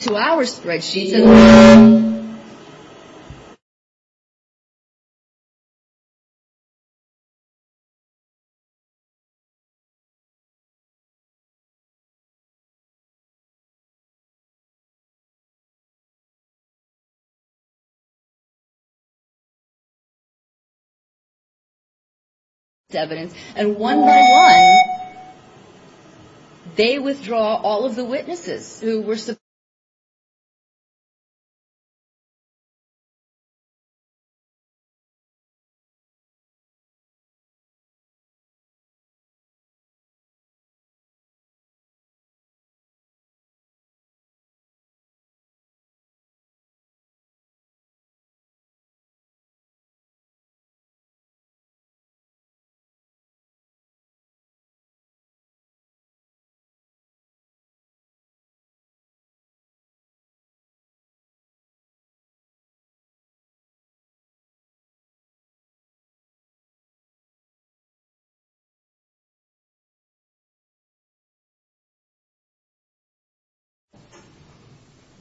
To our spreadsheets and one by one, they withdraw all of the witnesses who were present.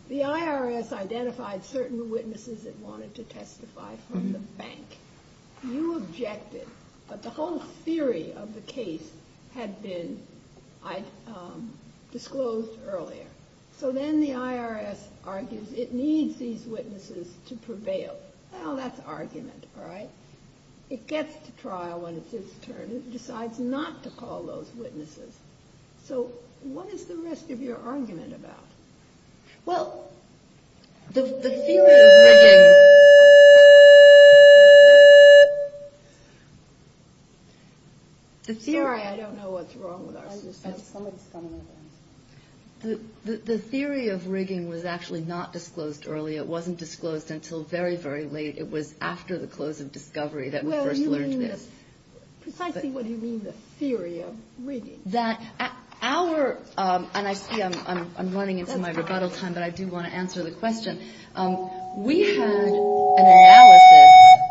The IRS identified certain witnesses that wanted to testify from the bank. You objected, but the whole theory of the case had been disclosed earlier. So then the IRS argues it needs these witnesses to prevail. Well, that's argument, right? It gets to trial when it's its turn. It decides not to call those witnesses. So what is the rest of your argument about? Well, the theory of rigging was actually not disclosed early. It wasn't disclosed until very, very late. It was after the close of discovery that we first learned this. Precisely what do you mean, the theory of rigging? And I see I'm running into my rebuttal time, but I do want to answer the question. We had an analysis. We had an analysis. We had an analysis.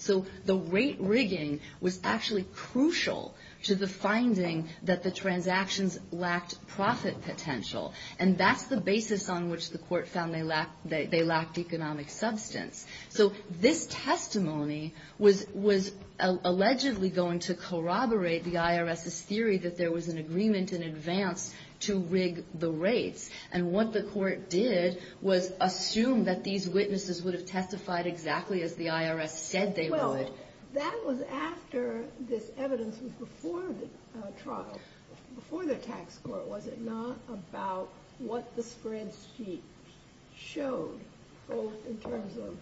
So the rate rigging was actually crucial to the finding that the transactions lacked profit potential. And that's the basis on which the court found they lacked economic substance. So this testimony was allegedly going to corroborate the IRS's theory that there was an agreement in advance to rig the rates. And what the court did was assume that these witnesses would have testified exactly as the IRS said they would. But that was after this evidence was before the trial, before the tax court. Was it not about what the spreadsheet showed, both in terms of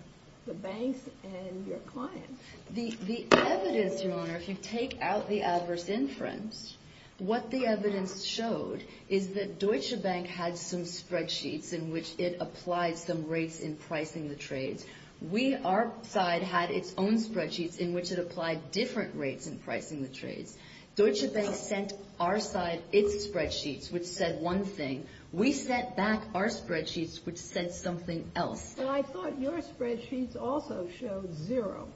the banks and your clients? The evidence, Your Honor, if you take out the adverse inference, what the evidence showed is that Deutsche Bank had some spreadsheets in which it applied some rates in pricing the trades. We, our side, had its own spreadsheets in which it applied different rates in pricing the trades. Deutsche Bank sent our side its spreadsheets, which said one thing. We sent back our spreadsheets, which said something else. And I thought your spreadsheets also showed zero.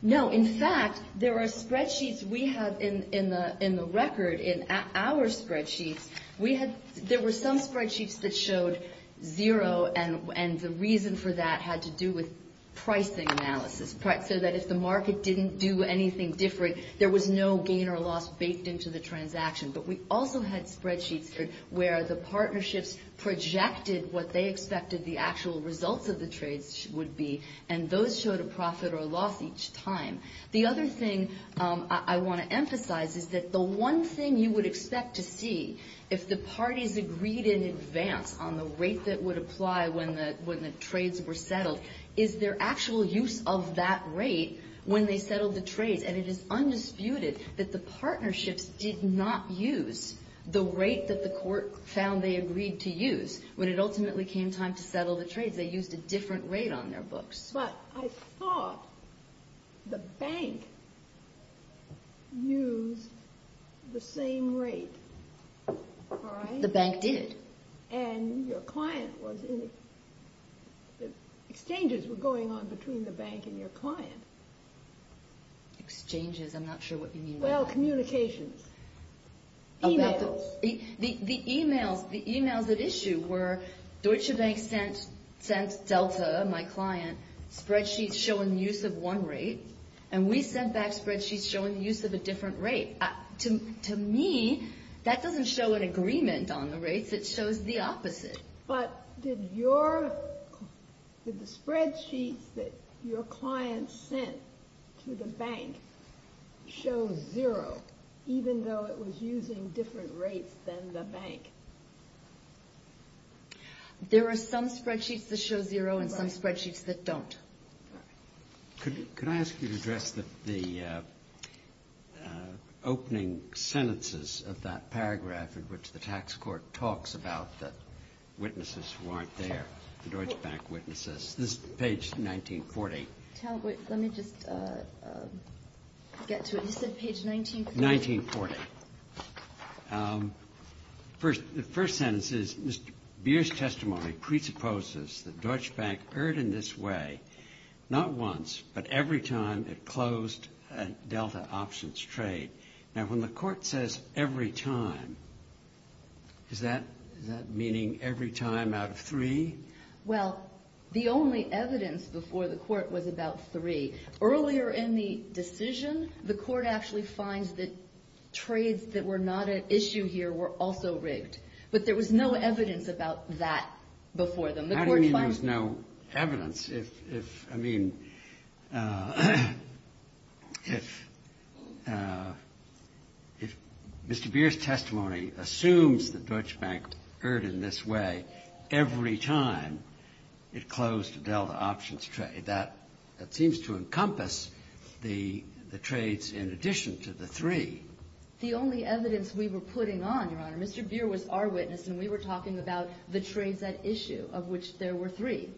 No, in fact, there are spreadsheets we have in the record, in our spreadsheets. There were some spreadsheets that showed zero, and the reason for that had to do with pricing analysis. So that if the market didn't do anything different, there was no gain or loss baked into the transaction. But we also had spreadsheets where the partnerships projected what they expected the actual results of the trades would be. And those showed a profit or loss each time. The other thing I want to emphasize is that the one thing you would expect to see, if the parties agreed in advance on the rate that would apply when the trades were settled, is their actual use of that rate when they settled the trades. And it is undisputed that the partnerships did not use the rate that the court found they agreed to use when it ultimately came time to settle the trades. They used a different rate on their books. But I thought the bank used the same rate. The bank did. And exchanges were going on between the bank and your client. Exchanges, I'm not sure what you mean by that. Well, communications. Emails. The emails at issue were Deutsche Bank sent Delta, my client, spreadsheets showing the use of one rate. And we sent back spreadsheets showing the use of a different rate. To me, that doesn't show an agreement on the rates. It shows the opposite. But did the spreadsheets that your client sent to the bank show zero, even though it was using different rates than the bank? There are some spreadsheets that show zero and some spreadsheets that don't. Could I ask you to address the opening sentences of that paragraph in which the tax court talks about the witnesses who aren't there, the Deutsche Bank witnesses? This is page 1940. Let me just get to it. You said page 1940? 1940. The first sentence is, Mr. Beer's testimony presupposes that Deutsche Bank erred in this way not once, but every time it closed a Delta options trade. Now, when the court says every time, is that meaning every time out of three? Well, the only evidence before the court was about three. Earlier in the decision, the court actually finds that trades that were not at issue here were also rigged. But there was no evidence about that before then. How do you mean there was no evidence? I mean, if Mr. Beer's testimony assumes that Deutsche Bank erred in this way every time it closed a Delta options trade, that seems to encompass the trades in addition to the three. The only evidence we were putting on, Your Honor, Mr. Beer was our witness, and we were talking about the trades at issue, of which there were three.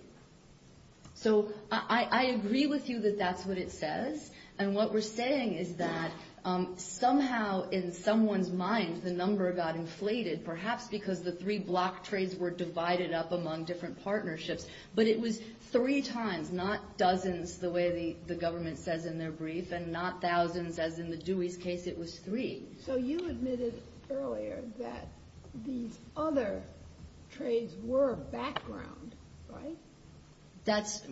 So I agree with you that that's what it says. And what we're saying is that somehow in someone's mind the number got inflated, perhaps because the three block trades were divided up among different partnerships. But it was three times, not dozens the way the government says in their brief, and not thousands as in the Dewey's case, it was three. So you admitted earlier that these other trades were background, right? That's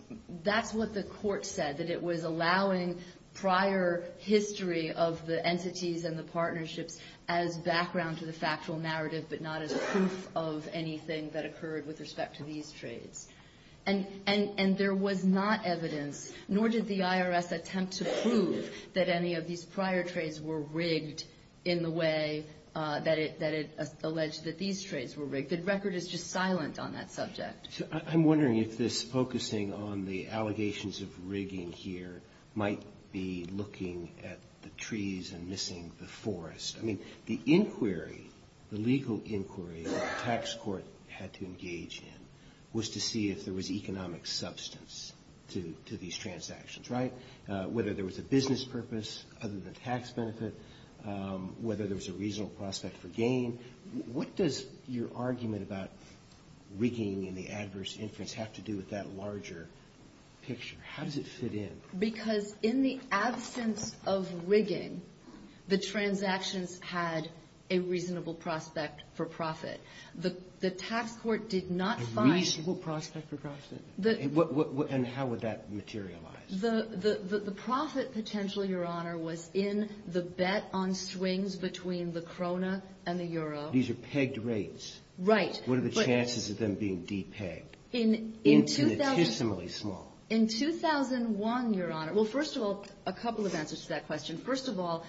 what the court said, that it was allowing prior history of the entities and the partnerships as background to the factual narrative, but not as proof of anything that occurred with respect to these trades. And there was not evidence, nor did the IRS attempt to prove that any of these prior trades were rigged in the way that it alleged that these trades were rigged. The record is just silent on that subject. I'm wondering if this focusing on the allegations of rigging here might be looking at the trees and missing the forest. I mean, the inquiry, the legal inquiry that the tax court had to engage in was to see if there was economic substance to these transactions, right? Whether there was a business purpose other than tax benefit, whether there was a reasonable prospect for gain. What does your argument about rigging and the adverse influence have to do with that larger picture? How does it fit in? Because in the absence of rigging, the transactions had a reasonable prospect for profit. The tax court did not find... A reasonable prospect for profit? And how would that materialize? The profit potential, Your Honor, was in the bet on swings between the krona and the euro. These are pegged rates. Right. What are the chances of them being de-pegged? Intuitively small. In 2001, Your Honor... Well, first of all, a couple of answers to that question. First of all,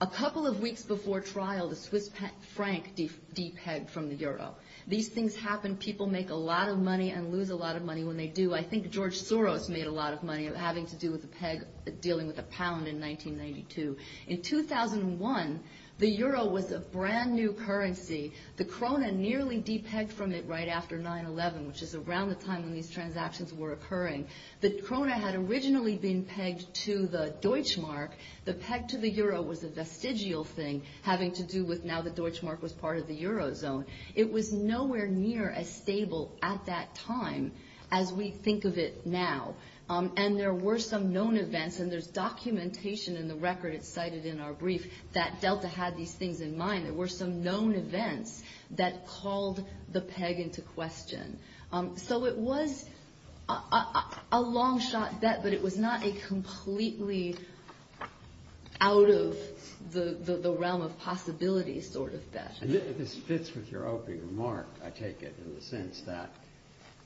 a couple of weeks before trial, the Swiss franc de-pegged from the euro. These things happen. People make a lot of money and lose a lot of money when they do. I think George Soros made a lot of money having to do with a peg dealing with a pound in 1992. In 2001, the euro was a brand new currency. The krona nearly de-pegged from it right after 9-11, which is around the time when these transactions were occurring. The krona had originally been pegged to the deutschmark. The peg to the euro was a vestigial thing having to do with now the deutschmark was part of the eurozone. It was nowhere near as stable at that time as we think of it now. And there were some known events, and there's documentation in the record it's cited in our brief that Delta had these things in mind. There were some known events that called the peg into question. So it was a long-shot bet, but it was not a completely out of the realm of possibility sort of bet. And this fits with your opening remark, I take it, in the sense that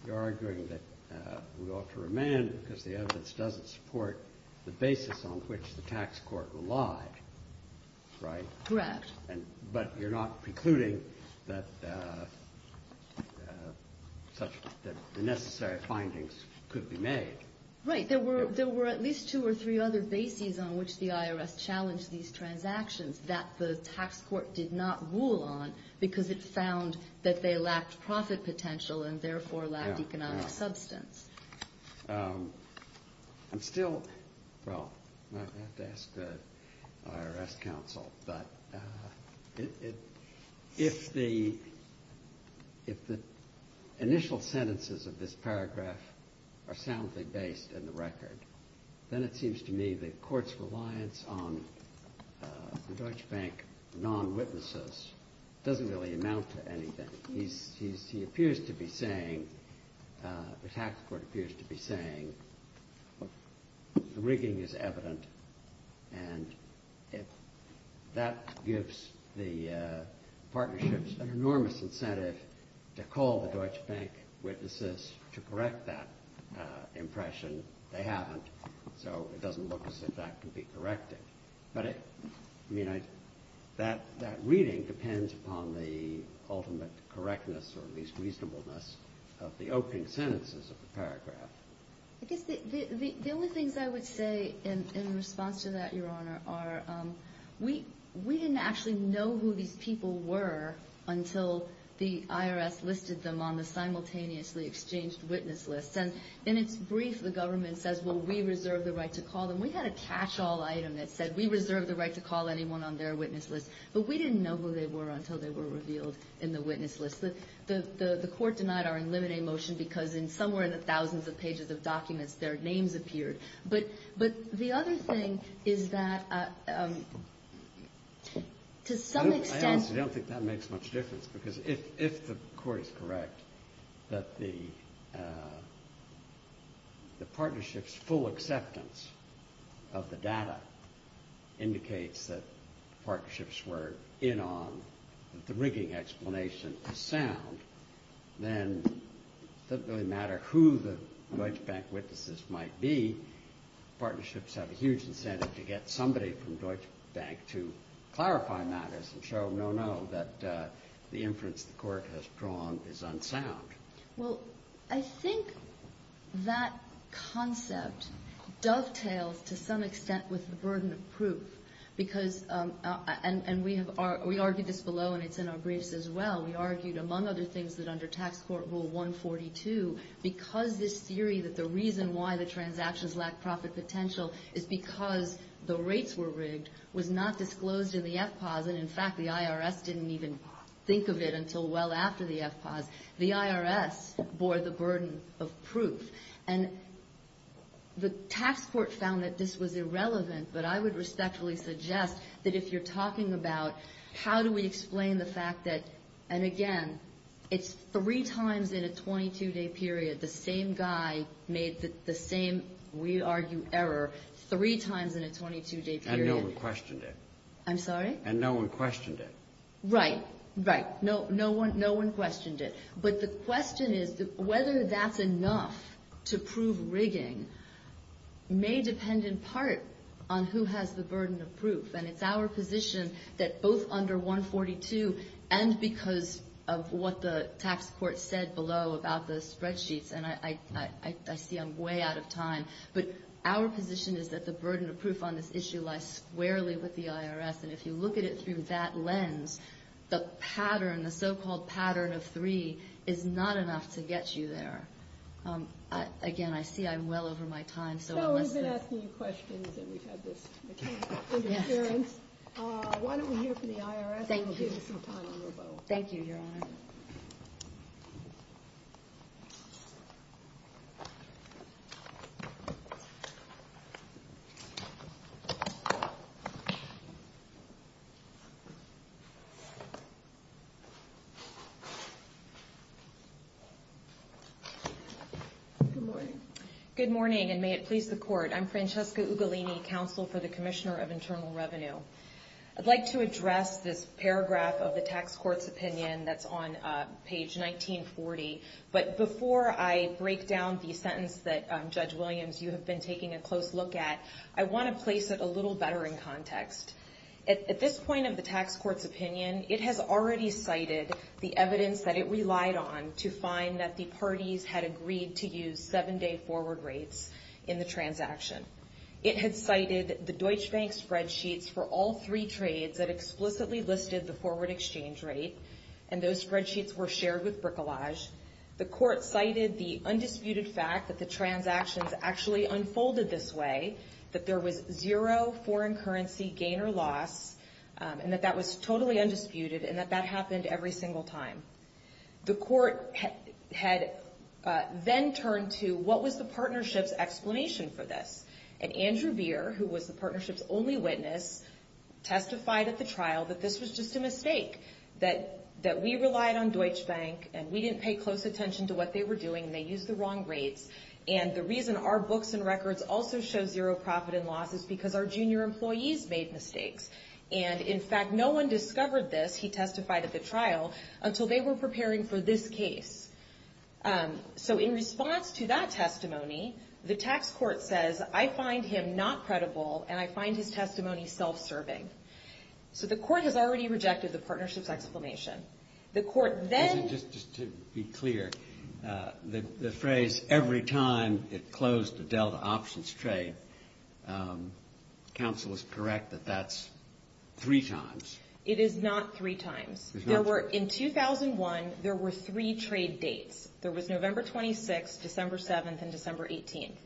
you're arguing that we ought to remand because the evidence doesn't support the basis on which the tax court relied, right? Correct. But you're not precluding that the necessary findings could be made. Right, there were at least two or three other bases on which the IRS challenged these transactions that the tax court did not rule on because it found that they lacked profit potential and therefore lacked economic substance. I'm still – well, I have to ask the IRS counsel, but if the initial sentences of this paragraph are soundly based in the record, then it seems to me the court's reliance on the Deutsche Bank non-witnesses doesn't really amount to anything. He appears to be saying – the tax court appears to be saying the rigging is evident, and that gives the partnerships an enormous incentive to call the Deutsche Bank witnesses to correct that impression. They haven't, so it doesn't look as if that can be corrected. But, I mean, that reading depends upon the ultimate correctness or at least reasonableness of the opening sentences of the paragraph. I guess the only things I would say in response to that, Your Honor, are we didn't actually know who these people were until the IRS listed them on the simultaneously exchanged witness list. And in its brief, the government says, well, we reserve the right to call them. We had a catch-all item that said we reserve the right to call anyone on their witness list. But we didn't know who they were until they were revealed in the witness list. The court denied our eliminate motion because in somewhere in the thousands of pages of documents, their names appeared. But the other thing is that to some extent – I don't think it makes much difference because if the court is correct that the partnership's full acceptance of the data indicates that partnerships were in on the rigging explanation to sound, then it doesn't really matter who the Deutsche Bank witnesses might be. Partnerships have a huge incentive to get somebody from Deutsche Bank to clarify matters and show no, no, that the inference the court has drawn is unsound. Well, I think that concept dovetails to some extent with the burden of proof because – and we argued this below and it's in our briefs as well. We argued, among other things, that under Tax Court Rule 142, because this theory that the reason why the transactions lack profit potential is because the rates were rigged, was not disclosed in the FPOS and, in fact, the IRS didn't even think of it until well after the FPOS. The IRS bore the burden of proof. And the tax court found that this was irrelevant, but I would respectfully suggest that if you're talking about how do we explain the fact that – and again, it's three times in a 22-day period. The same guy made the same, we argue, error three times in a 22-day period. And no one questioned it. I'm sorry? And no one questioned it. Right, right. No one questioned it. But the question is whether that's enough to prove rigging may depend in part on who has the burden of proof. And it's our position that both under 142 and because of what the tax court said below about the spreadsheets, and I see I'm way out of time, but our position is that the burden of proof on this issue lies squarely with the IRS. And if you look at it through that lens, the pattern, the so-called pattern of three, is not enough to get you there. Again, I see I'm well over my time, so I'll – No, we've been asking you questions and we've had this kind of interference. Why don't we hear from the IRS and we'll give you some time on your boat. Thank you, Your Honor. Thank you. Good morning. Good morning, and may it please the Court. I'm Francesca Ugolini, Counsel for the Commissioner of Internal Revenue. I'd like to address this paragraph of the tax court's opinion that's on page 1940. But before I break down the sentence that, Judge Williams, you have been taking a close look at, I want to place it a little better in context. At this point of the tax court's opinion, it has already cited the evidence that it relied on to find that the parties had agreed to use seven-day forward rates in the transaction. It had cited the Deutsche Bank spreadsheets for all three trades that explicitly listed the forward exchange rate, and those spreadsheets were shared with Bricolage. The Court cited the undisputed fact that the transactions actually unfolded this way, that there was zero foreign currency gain or loss, and that that was totally undisputed, and that that happened every single time. The Court had then turned to, what was the partnership's explanation for this? And Andrew Beer, who was the partnership's only witness, testified at the trial that this was just a mistake, that we relied on Deutsche Bank, and we didn't pay close attention to what they were doing, and they used the wrong rates. And the reason our books and records also show zero profit and loss is because our junior employees made mistakes. And, in fact, no one discovered this, he testified at the trial, until they were preparing for this case. So in response to that testimony, the tax court says, I find him not credible, and I find his testimony self-serving. So the Court has already rejected the partnership's explanation. The Court then... The phrase, every time it closed the Delta options trade, counsel is correct that that's three times. It is not three times. In 2001, there were three trade dates. There was November 26th, December 7th, and December 18th.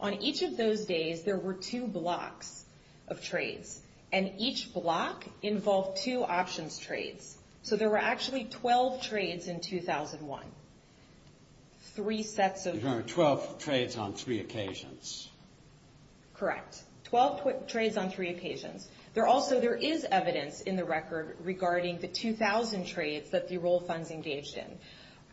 On each of those days, there were two blocks of trades, and each block involved two options trades. So there were actually 12 trades in 2001. Three sets of... There were 12 trades on three occasions. Correct. 12 trades on three occasions. There also, there is evidence in the record regarding the 2,000 trades that the enrolled funds engaged in.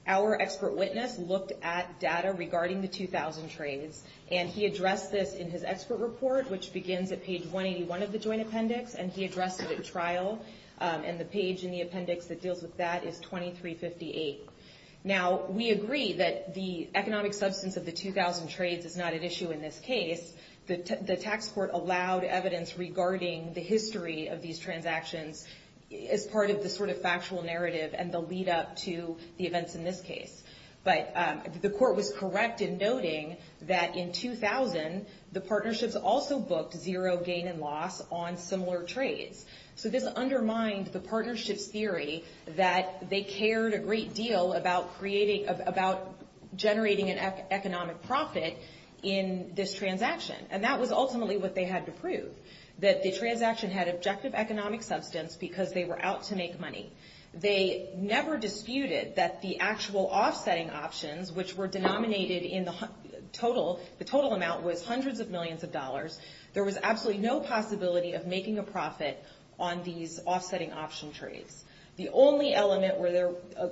Our expert witness looked at data regarding the 2,000 trades, and he addressed this in his expert report, which begins at page 181 of the joint appendix, and he addressed it at trial. And the page in the appendix that deals with that is 2358. Now, we agree that the economic substance of the 2,000 trades is not at issue in this case. The tax court allowed evidence regarding the history of these transactions as part of the sort of factual narrative and the lead-up to the events in this case. But the court was correct in noting that in 2000, the partnerships also booked zero gain and loss on similar trades. So this undermined the partnership's theory that they cared a great deal about creating, about generating an economic profit in this transaction. And that was ultimately what they had to prove, that the transaction had objective economic substance because they were out to make money. They never disputed that the actual offsetting options, which were denominated in the total amount, was hundreds of millions of dollars. There was absolutely no possibility of making a profit on these offsetting option trades. The only element,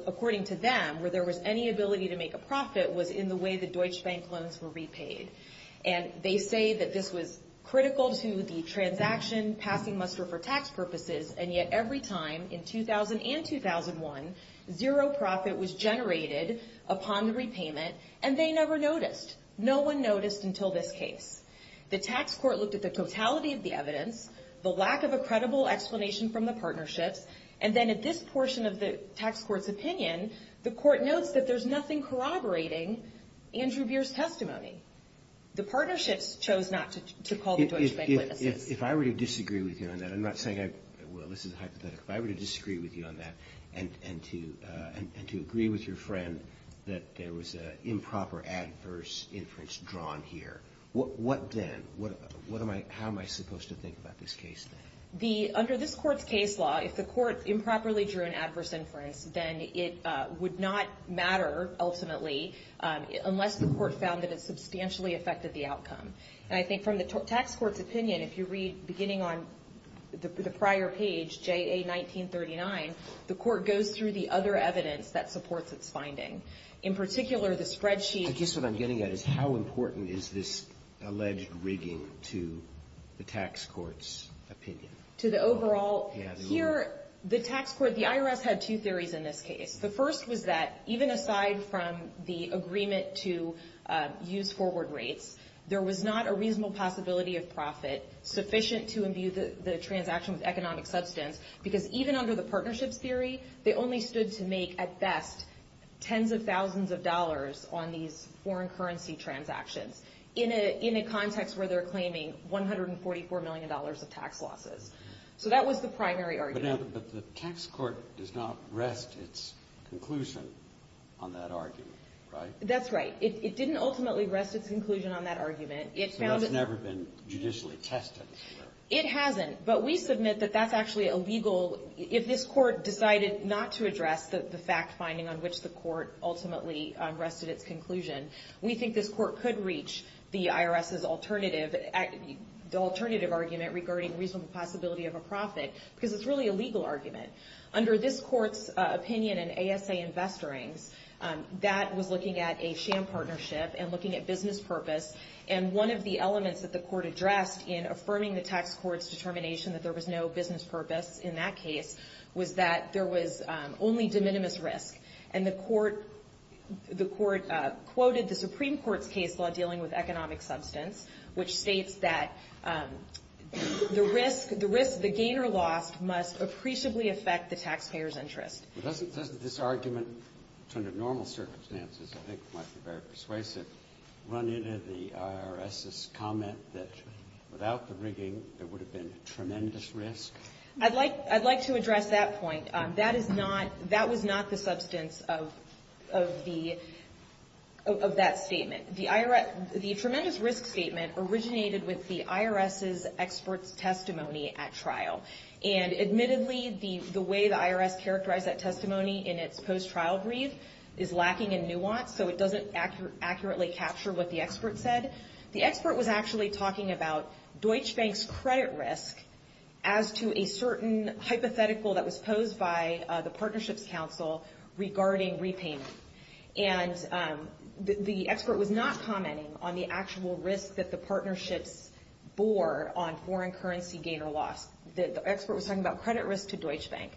according to them, where there was any ability to make a profit was in the way the Deutsche Bank loans were repaid. And they say that this was critical to the transaction passing muster for tax purposes, and yet every time in 2000 and 2001, zero profit was generated upon the repayment, and they never noticed. No one noticed until this case. The tax court looked at the totality of the evidence, the lack of a credible explanation from the partnerships, and then at this portion of the tax court's opinion, the court notes that there's nothing corroborating Andrew Beer's testimony. The partnerships chose not to call the Deutsche Bank witnesses. If I were to disagree with you on that, I'm not saying I – well, this is a hypothetical. If I were to disagree with you on that and to agree with your friend that there was an improper adverse inference drawn here, what then? How am I supposed to think about this case then? Under this court's case law, if the court improperly drew an adverse inference, then it would not matter ultimately unless the court found that it substantially affected the outcome. And I think from the tax court's opinion, if you read beginning on the prior page, J.A. 1939, the court goes through the other evidence that supports its finding. In particular, the spreadsheet – I guess what I'm getting at is how important is this alleged rigging to the tax court's opinion? To the overall – here, the tax court – the IRS had two theories in this case. The first was that even aside from the agreement to use forward rates, there was not a reasonable possibility of profit sufficient to imbue the transaction with economic substance because even under the partnerships theory, they only stood to make at best tens of thousands of dollars on these foreign currency transactions in a context where they're claiming $144 million of tax losses. So that was the primary argument. But the tax court does not rest its conclusion on that argument, right? That's right. It didn't ultimately rest its conclusion on that argument. So that's never been judicially tested? It hasn't, but we submit that that's actually a legal – if this court decided not to address the fact finding on which the court ultimately rested its conclusion, we think this court could reach the IRS's alternative argument regarding reasonable possibility of a profit because it's really a legal argument. Under this court's opinion in ASA Investorings, that was looking at a sham partnership and looking at business purpose. And one of the elements that the court addressed in affirming the tax court's determination that there was no business purpose in that case was that there was only de minimis risk. And the court quoted the Supreme Court's case law dealing with economic substance, which states that the risk – the gain or loss must appreciably affect the taxpayer's interest. Doesn't this argument, in terms of normal circumstances, I think might be very persuasive, run into the IRS's comment that without the rigging there would have been tremendous risk? I'd like to address that point. That is not – that was not the substance of the – of that statement. The tremendous risk statement originated with the IRS's expert's testimony at trial. And admittedly, the way the IRS characterized that testimony in its post-trial brief is lacking in nuance, so it doesn't accurately capture what the expert said. The expert was actually talking about Deutsche Bank's credit risk as to a certain hypothetical that was posed by the Partnerships Council regarding repayment. And the expert was not commenting on the actual risk that the partnerships bore on foreign currency gain or loss. The expert was talking about credit risk to Deutsche Bank.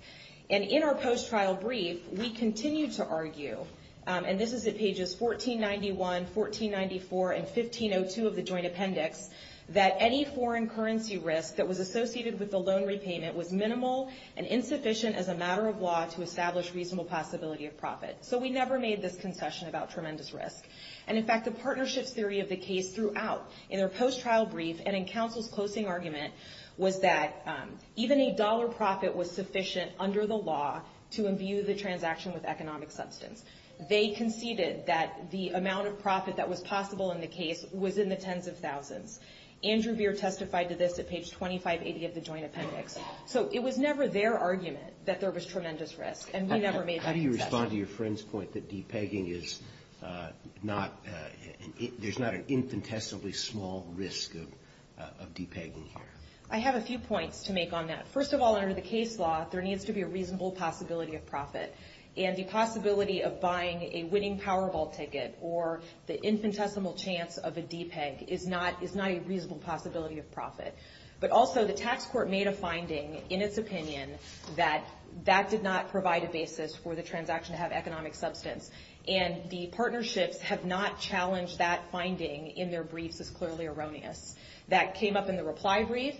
And in our post-trial brief, we continued to argue – and this is at pages 1491, 1494, and 1502 of the joint appendix – that any foreign currency risk that was associated with the loan repayment was minimal and insufficient as a matter of law to establish reasonable possibility of profit. So we never made this concession about tremendous risk. And in fact, the partnerships theory of the case throughout, in their post-trial brief and in counsel's closing argument, was that even a dollar profit was sufficient under the law to imbue the transaction with economic substance. They conceded that the amount of profit that was possible in the case was in the tens of thousands. Andrew Veer testified to this at page 2580 of the joint appendix. So it was never their argument that there was tremendous risk, and we never made that concession. How do you respond to your friend's point that de-pegging is not – there's not an infinitesimally small risk of de-pegging here? I have a few points to make on that. First of all, under the case law, there needs to be a reasonable possibility of profit. And the possibility of buying a winning Powerball ticket or the infinitesimal chance of a de-peg is not a reasonable possibility of profit. But also, the tax court made a finding in its opinion that that did not provide a basis for the transaction to have economic substance. And the partnerships have not challenged that finding in their briefs as clearly erroneous. That came up in the reply brief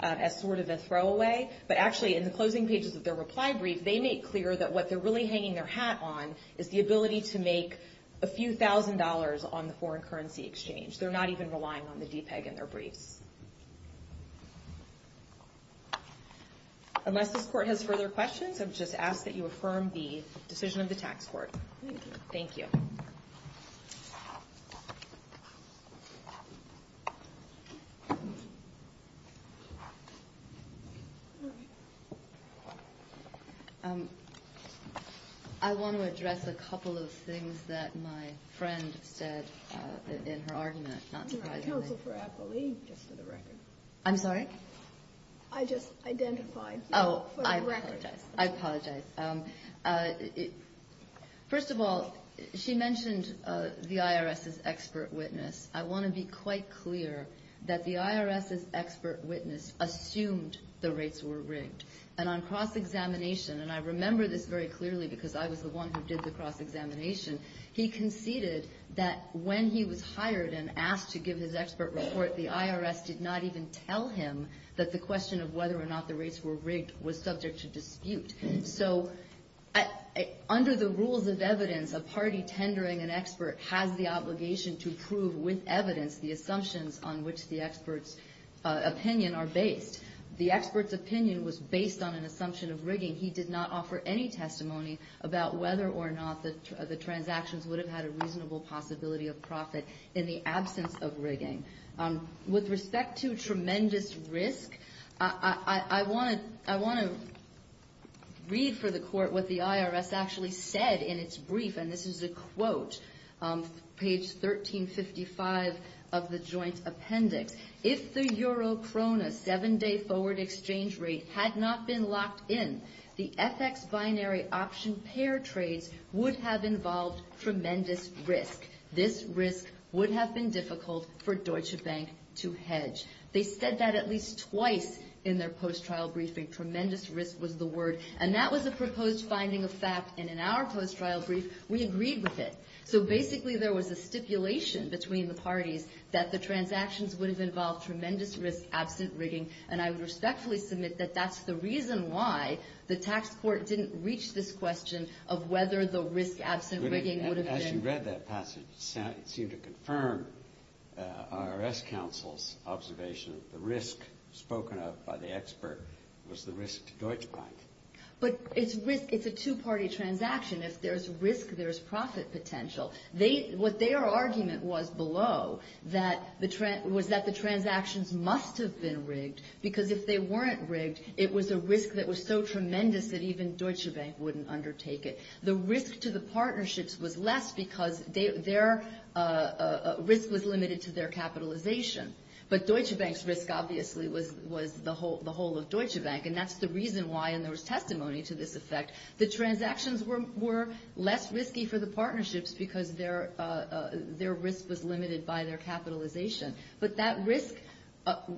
as sort of a throwaway. But actually, in the closing pages of their reply brief, they make clear that what they're really hanging their hat on is the ability to make a few thousand dollars on the foreign currency exchange. They're not even relying on the de-peg in their briefs. Unless this court has further questions, I would just ask that you affirm the decision of the tax court. Thank you. I want to address a couple of things that my friend said in her argument. I'm sorry? I just identified. Oh, I apologize. I apologize. First of all, she mentioned the IRS's expert witness. I want to be quite clear that the IRS's expert witness assumed the rates were rigged. And on cross-examination, and I remember this very clearly because I was the one who did the cross-examination, he conceded that when he was hired and asked to give his expert report, the IRS did not even tell him that the question of whether or not the rates were rigged was subject to dispute. So under the rules of evidence, a party tendering an expert has the obligation to prove with evidence the assumptions on which the expert's opinion are based. The expert's opinion was based on an assumption of rigging. He did not offer any testimony about whether or not the transactions would have had a reasonable possibility of profit in the absence of rigging. With respect to tremendous risk, I want to read for the Court what the IRS actually said in its brief, and this is a quote, page 1355 of the Joint Appendix. If the euro-krona seven-day forward exchange rate had not been locked in, the FX binary option pair trades would have involved tremendous risk. This risk would have been difficult for Deutsche Bank to hedge. They said that at least twice in their post-trial briefing. Tremendous risk was the word, and that was a proposed finding of fact, and in our post-trial brief, we agreed with it. So basically there was a stipulation between the parties that the transactions would have involved tremendous risk absent rigging, and I would respectfully submit that that's the reason why the tax court didn't reach this question of whether the risk absent rigging would have been. As you read that passage, it seemed to confirm IRS counsel's observation that the risk spoken of by the expert was the risk to Deutsche Bank. But it's a two-party transaction. If there's risk, there's profit potential. What their argument was below was that the transactions must have been rigged because if they weren't rigged, it was a risk that was so tremendous that even Deutsche Bank wouldn't undertake it. The risk to the partnerships was less because their risk was limited to their capitalization. But Deutsche Bank's risk obviously was the whole of Deutsche Bank, and that's the reason why, and there was testimony to this effect, the transactions were less risky for the partnerships because their risk was limited by their capitalization. But that risk,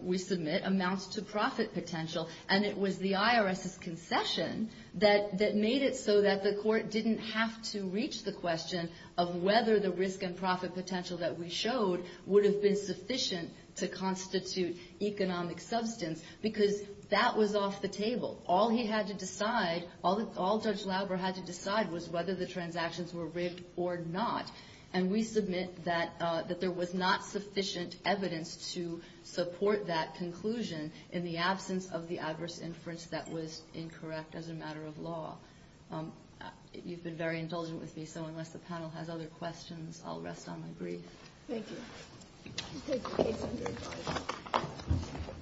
we submit, amounts to profit potential, and it was the IRS's concession that made it so that the court didn't have to reach the question of whether the risk and profit potential that we showed would have been sufficient to constitute economic substance because that was off the table. All he had to decide, all Judge Lauber had to decide, was whether the transactions were rigged or not. And we submit that there was not sufficient evidence to support that conclusion in the absence of the adverse inference that was incorrect as a matter of law. You've been very indulgent with me, so unless the panel has other questions, I'll rest on my brief. Thank you.